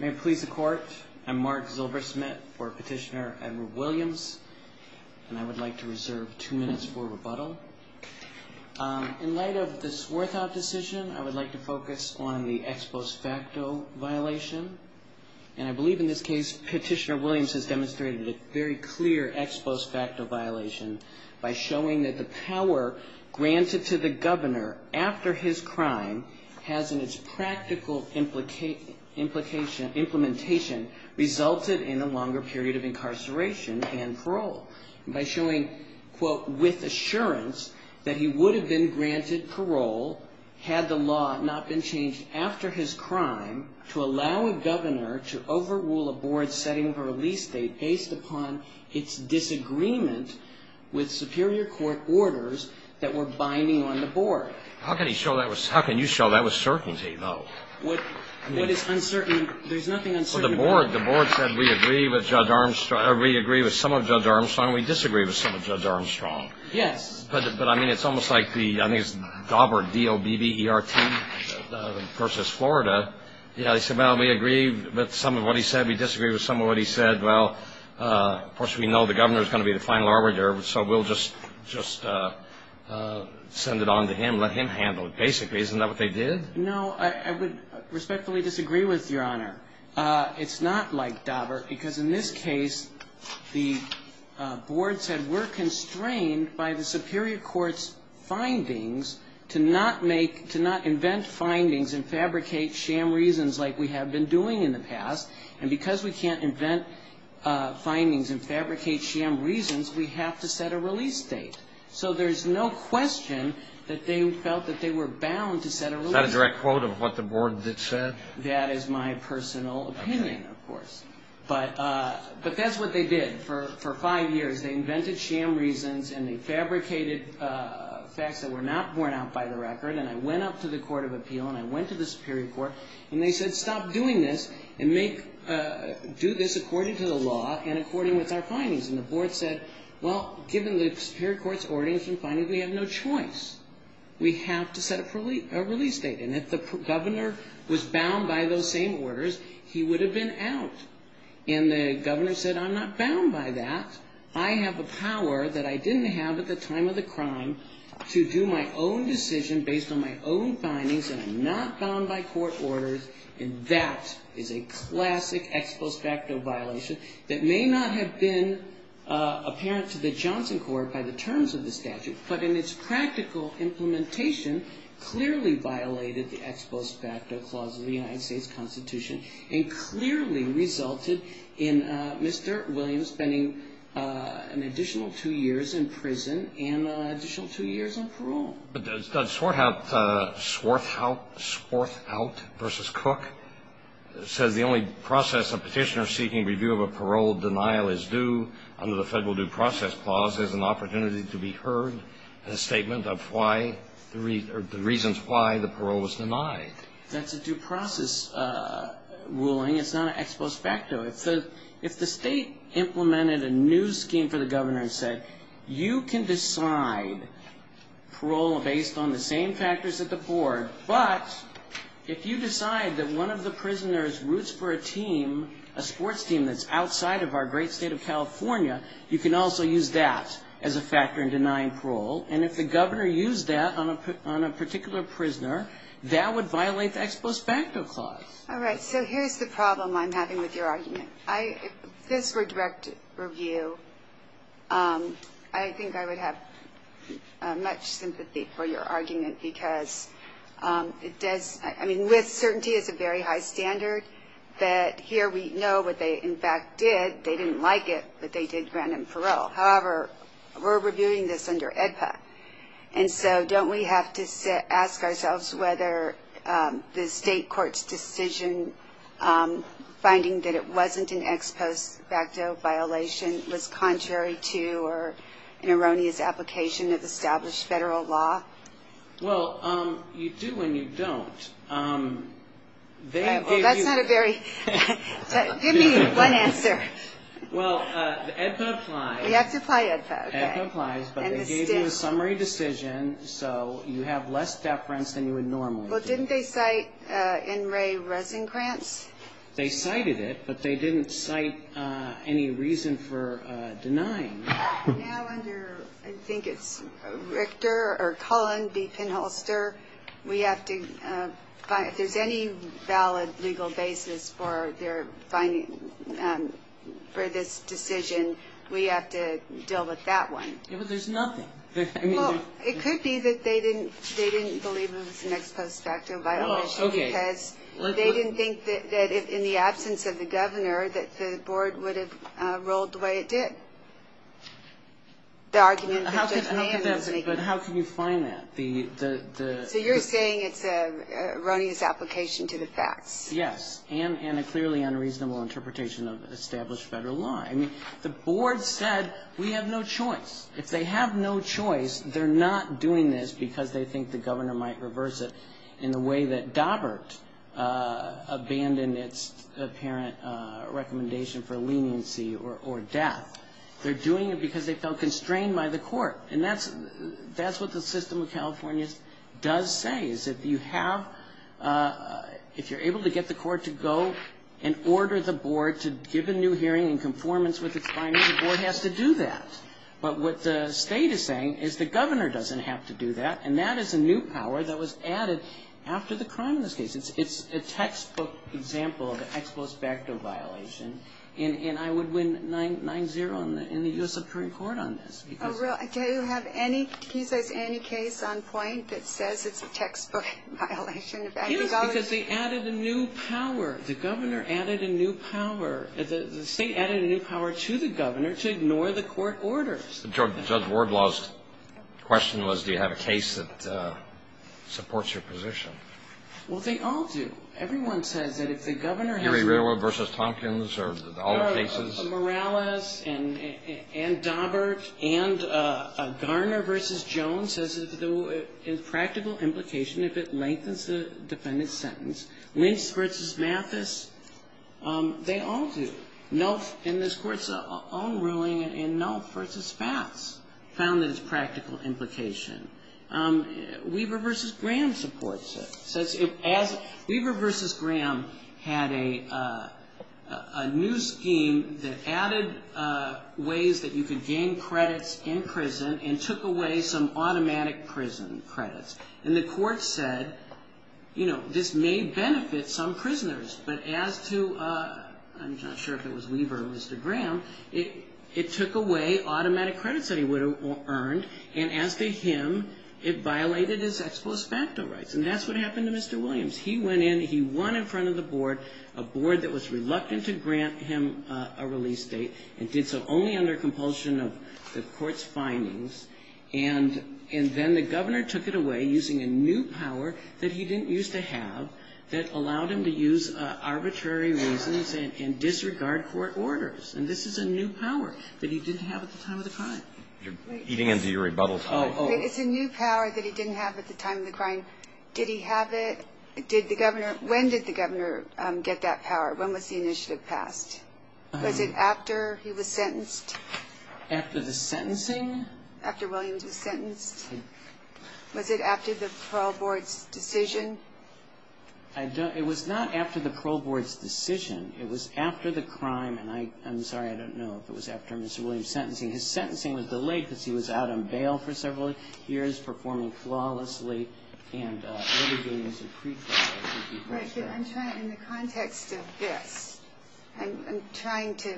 May it please the Court, I'm Mark Zilbersmith for Petitioner Edward Williams, and I would like to reserve two minutes for rebuttal. In light of the Swirthaupt decision, I would like to focus on the ex post facto violation. And I believe in this case, Petitioner Williams has demonstrated a very clear ex post facto violation by showing that the power granted to the governor after his crime has in its practical implementation resulted in a longer period of incarceration and parole. By showing, quote, with assurance that he would have been granted parole had the law not been changed after his crime to allow a governor to overrule a board setting for a release date based upon its disagreement with superior court orders that were binding on the board. How can you show that with certainty, though? There's nothing uncertain about it. The board said we agree with some of Judge Armstrong, and we disagree with some of Judge Armstrong. Yes. But, I mean, it's almost like the, I think it's Dobbert, D-O-B-B-E-R-T versus Florida. You know, they said, well, we agree with some of what he said, we disagree with some of what he said. Well, of course, we know the governor is going to be the final arbiter, so we'll just send it on to him, let him handle it, basically. Isn't that what they did? No, I would respectfully disagree with Your Honor. It's not like Dobbert, because in this case the board said we're constrained by the superior court's findings to not make, to not invent findings and fabricate sham reasons like we have been doing in the past. And because we can't invent findings and fabricate sham reasons, we have to set a release date. So there's no question that they felt that they were bound to set a release date. Is that a direct quote of what the board said? That is my personal opinion, of course. But that's what they did for five years. They invented sham reasons, and they fabricated facts that were not borne out by the record. And I went up to the court of appeal, and I went to the superior court, and they said stop doing this, and do this according to the law and according with our findings. And the board said, well, given the superior court's ordinance and findings, we have no choice. We have to set a release date. And if the governor was bound by those same orders, he would have been out. And the governor said, I'm not bound by that. I have a power that I didn't have at the time of the crime to do my own decision based on my own findings, and I'm not bound by court orders, and that is a classic ex post facto violation that may not have been apparent to the Johnson court by the terms of the statute, but in its practical implementation, clearly violated the ex post facto clause of the United States Constitution and clearly resulted in Mr. Williams spending an additional two years in prison and an additional two years on parole. But does that sort out Swarthout versus Cook? It says the only process of petitioners seeking review of a parole denial is due under the federal due process clause. There's an opportunity to be heard in a statement of the reasons why the parole was denied. That's a due process ruling. It's not an ex post facto. If the state implemented a new scheme for the governor and said, you can decide parole based on the same factors at the board, but if you decide that one of the prisoner's roots for a team, that's outside of our great state of California, you can also use that as a factor in denying parole, and if the governor used that on a particular prisoner, that would violate the ex post facto clause. All right, so here's the problem I'm having with your argument. If this were direct review, I think I would have much sympathy for your argument because it does ‑‑ I mean, with certainty is a very high standard, but here we know what they, in fact, did. They didn't like it, but they did grant him parole. However, we're reviewing this under AEDPA, and so don't we have to ask ourselves whether the state court's decision, finding that it wasn't an ex post facto violation, was contrary to or an erroneous application of established federal law? Well, you do and you don't. Well, that's not a very ‑‑ give me one answer. Well, AEDPA applies. We have to apply AEDPA, okay. AEDPA applies, but they gave you a summary decision, so you have less deference than you would normally do. Well, didn't they cite NRA resin grants? They cited it, but they didn't cite any reason for denying. Now under, I think it's Richter or Cullen v. Pinholster, we have to find if there's any valid legal basis for their finding for this decision, we have to deal with that one. Yeah, but there's nothing. Well, it could be that they didn't believe it was an ex post facto violation because they didn't think that in the absence of the governor that the board would have rolled the way it did. The argument that Judge Mayen was making. But how can you find that? So you're saying it's an erroneous application to the facts. Yes, and a clearly unreasonable interpretation of established federal law. I mean, the board said we have no choice. If they have no choice, they're not doing this because they think the governor might reverse it in the way that Daubert abandoned its apparent recommendation for leniency or death. They're doing it because they felt constrained by the court. And that's what the system of California does say, is that if you're able to get the court to go and order the board to give a new hearing in conformance with its findings, the board has to do that. But what the state is saying is the governor doesn't have to do that, and that is a new power that was added after the crime in this case. It's a textbook example of an ex post facto violation, and I would win 9-0 in the U.S. Supreme Court on this. Do you have any case on point that says it's a textbook violation? Yes, because they added a new power. The governor added a new power. The state added a new power to the governor to ignore the court orders. Judge Wardlaw's question was, do you have a case that supports your position? Well, they all do. Everyone says that if the governor has a new power. Erie Railroad v. Tompkins or all the cases? Morales and Daubert and Garner v. Jones says the practical implication, if it lengthens the defendant's sentence. Lynch v. Mathis, they all do. And this Court's own ruling in Nelf v. Fats found that it's practical implication. Weaver v. Graham supports it. Weaver v. Graham had a new scheme that added ways that you could gain credits in prison and took away some automatic prison credits. And the Court said, you know, this may benefit some prisoners, but as to ‑‑ I'm not sure if it was Weaver or Mr. Graham. It took away automatic credits that he would have earned. And as to him, it violated his ex post facto rights. And that's what happened to Mr. Williams. He went in. He won in front of the board, a board that was reluctant to grant him a release date and did so only under compulsion of the Court's findings. And then the governor took it away using a new power that he didn't used to have that allowed him to use arbitrary reasons and disregard court orders. And this is a new power that he didn't have at the time of the crime. You're eating into your rebuttal time. It's a new power that he didn't have at the time of the crime. Did he have it? When did the governor get that power? When was the initiative passed? Was it after he was sentenced? After the sentencing? After Williams was sentenced. Was it after the parole board's decision? It was not after the parole board's decision. It was after the crime. And I'm sorry, I don't know if it was after Mr. Williams' sentencing. His sentencing was delayed because he was out on bail for several years, performing flawlessly. And what he did was a pretrial. In the context of this, I'm trying to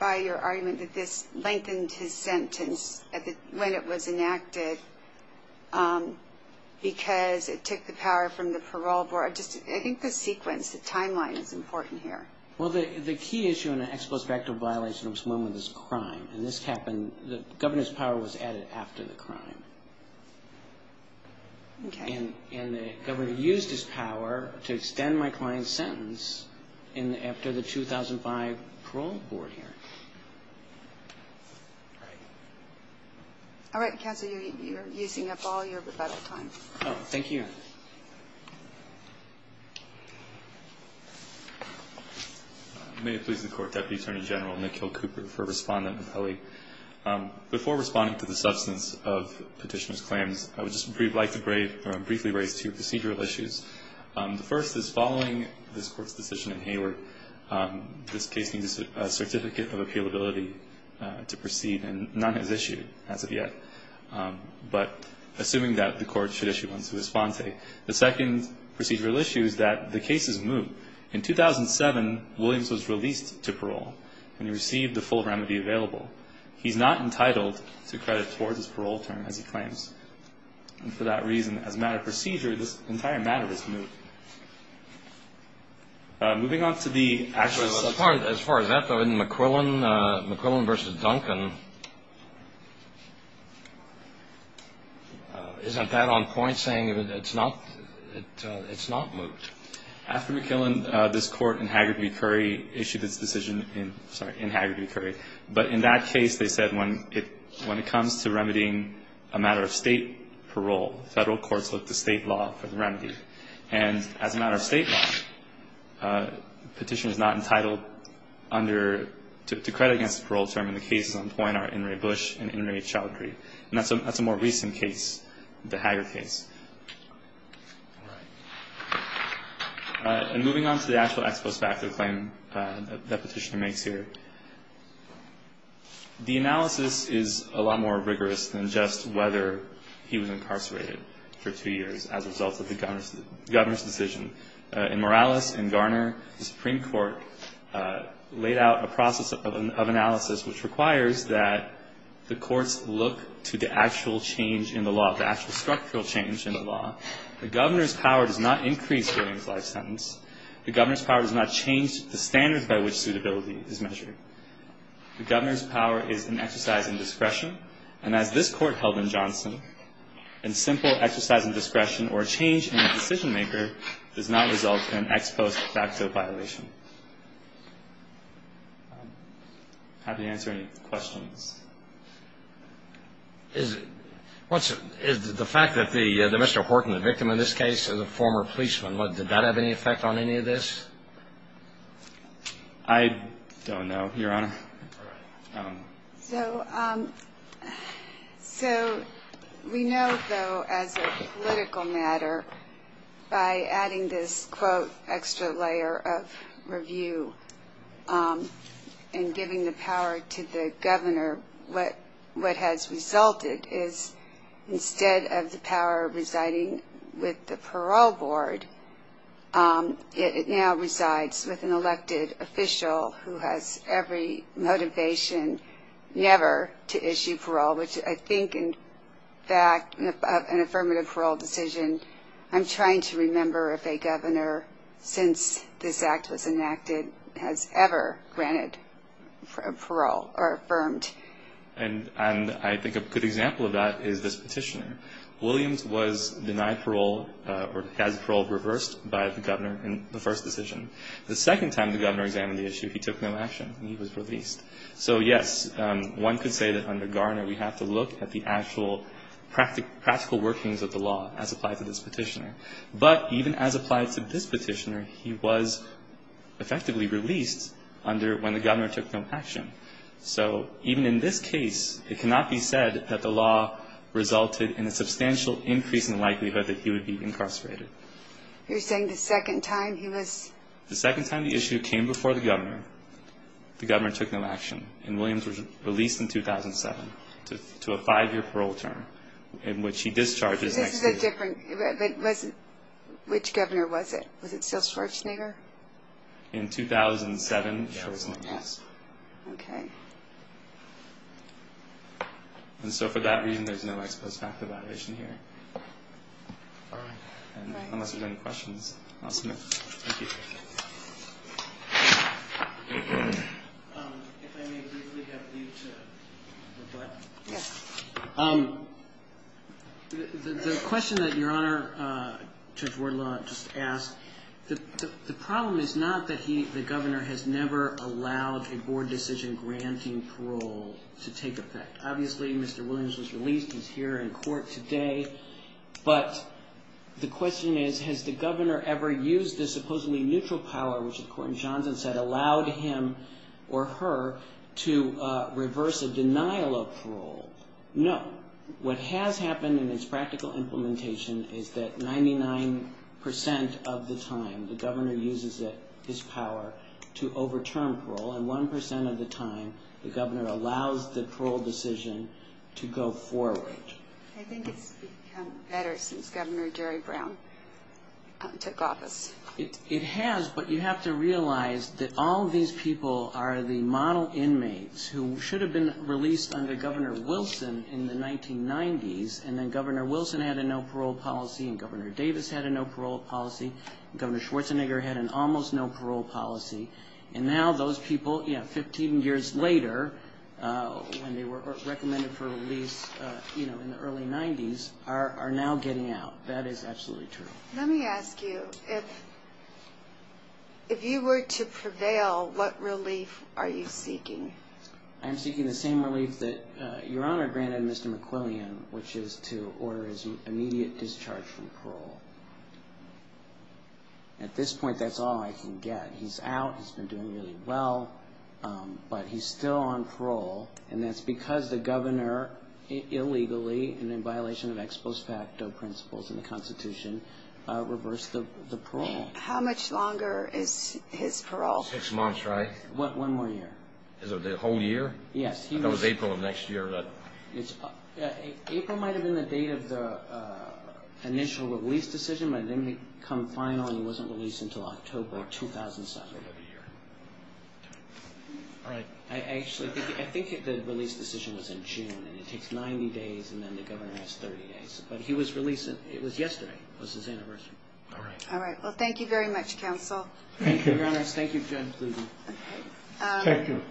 buy your argument that this lengthened his sentence when it was enacted because it took the power from the parole board. I think the sequence, the timeline is important here. Well, the key issue in an ex post facto violation of this moment is crime. And this happened, the governor's power was added after the crime. Okay. And the governor used his power to extend my client's sentence after the 2005 parole board hearing. All right. All right, counsel, you're using up all your rebuttal time. Oh, thank you. May it please the Court, Deputy Attorney General Nick Hill Cooper for Respondent Napoli. Before responding to the substance of Petitioner's claims, I would just like to briefly raise two procedural issues. The first is following this Court's decision in Hayward, this case needs a certificate of appealability to proceed, and none has issued as of yet. But assuming that, the Court should issue one to respond to it. The second procedural issue is that the case is moot. In 2007, Williams was released to parole and received the full remedy available. He's not entitled to credit towards his parole term, as he claims. And for that reason, as a matter of procedure, this entire matter is moot. Moving on to the actual substance. As far as that, though, in McQuillan v. Duncan, isn't that on point, saying it's not moot? After McQuillan, this Court in Hayward v. Curry issued its decision in Hayward v. Curry. But in that case, they said when it comes to remedying a matter of state parole, federal courts look to state law for the remedy. And as a matter of state law, the petitioner is not entitled to credit against the parole term, and the cases on point are Inouye Bush and Inouye Chowdhury. And that's a more recent case, the Hayward case. And moving on to the actual ex post facto claim that the petitioner makes here, the analysis is a lot more rigorous than just whether he was incarcerated for two years as a result of the governor's decision. In Morales and Garner, the Supreme Court laid out a process of analysis which requires that the courts look to the actual change in the law, the actual structural change in the law. The governor's power does not increase during his life sentence. The governor's power does not change the standards by which suitability is measured. The governor's power is an exercise in discretion. And as this Court held in Johnson, a simple exercise in discretion or a change in the decision maker does not result in an ex post facto violation. I'm happy to answer any questions. Is the fact that Mr. Horton, the victim in this case, is a former policeman, did that have any effect on any of this? I don't know, Your Honor. So we know, though, as a political matter, by adding this, quote, extra layer of review and giving the power to the governor, what has resulted is instead of the power residing with the parole board, it now resides with an elected official who has every motivation never to issue parole, which I think, in fact, an affirmative parole decision, I'm trying to remember if a governor since this act was enacted has ever granted parole or affirmed. And I think a good example of that is this petitioner. Williams was denied parole or has parole reversed by the governor in the first decision. The second time the governor examined the issue, he took no action. He was released. So, yes, one could say that under Garner we have to look at the actual practical workings of the law as applied to this petitioner. But even as applied to this petitioner, he was effectively released under when the governor took no action. So even in this case, it cannot be said that the law resulted in a substantial increase in the likelihood that he would be incarcerated. You're saying the second time he was? The second time the issue came before the governor, the governor took no action, and Williams was released in 2007 to a five-year parole term in which he discharges next week. Which governor was it? Was it still Schwarzenegger? In 2007, Schwarzenegger was. Okay. And so for that reason, there's no ex post facto violation here. All right. Unless there's any questions. I'll submit. Thank you. If I may briefly have you to reply. Yes. The question that Your Honor, Judge Wardlaw, just asked, the problem is not that the governor has never allowed a board decision granting parole to take effect. Obviously, Mr. Williams was released. He's here in court today. But the question is, has the governor ever used the supposedly neutral power, which the court in Johnson said allowed him or her to reverse a denial of parole? No. What has happened in its practical implementation is that 99% of the time, the governor uses his power to overturn parole, and 1% of the time the governor allows the parole decision to go forward. I think it's become better since Governor Jerry Brown took office. It has, but you have to realize that all these people are the model inmates who should have been released under Governor Wilson in the 1990s, and then Governor Wilson had a no parole policy, and Governor Davis had a no parole policy, and Governor Schwarzenegger had an almost no parole policy. And now those people, you know, 15 years later, when they were recommended for release, you know, in the early 90s, are now getting out. That is absolutely true. Let me ask you, if you were to prevail, what relief are you seeking? I'm seeking the same relief that Your Honor granted Mr. McQuillian, which is to order his immediate discharge from parole. At this point, that's all I can get. He's out, he's been doing really well, but he's still on parole, and that's because the governor illegally, and in violation of ex post facto principles in the Constitution, reversed the parole. How much longer is his parole? Six months, right? One more year. Is it a whole year? Yes. I thought it was April of next year. April might have been the date of the initial release decision, but it didn't become final, and he wasn't released until October 2007. All right. Actually, I think the release decision was in June, and it takes 90 days, and then the governor has 30 days. But he was released, it was yesterday, was his anniversary. All right. Well, thank you very much, counsel. Thank you, Your Honor. Thank you, Judge Blumen. Thank you.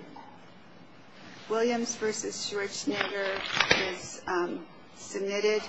Williams v. Schwarzenegger is submitted.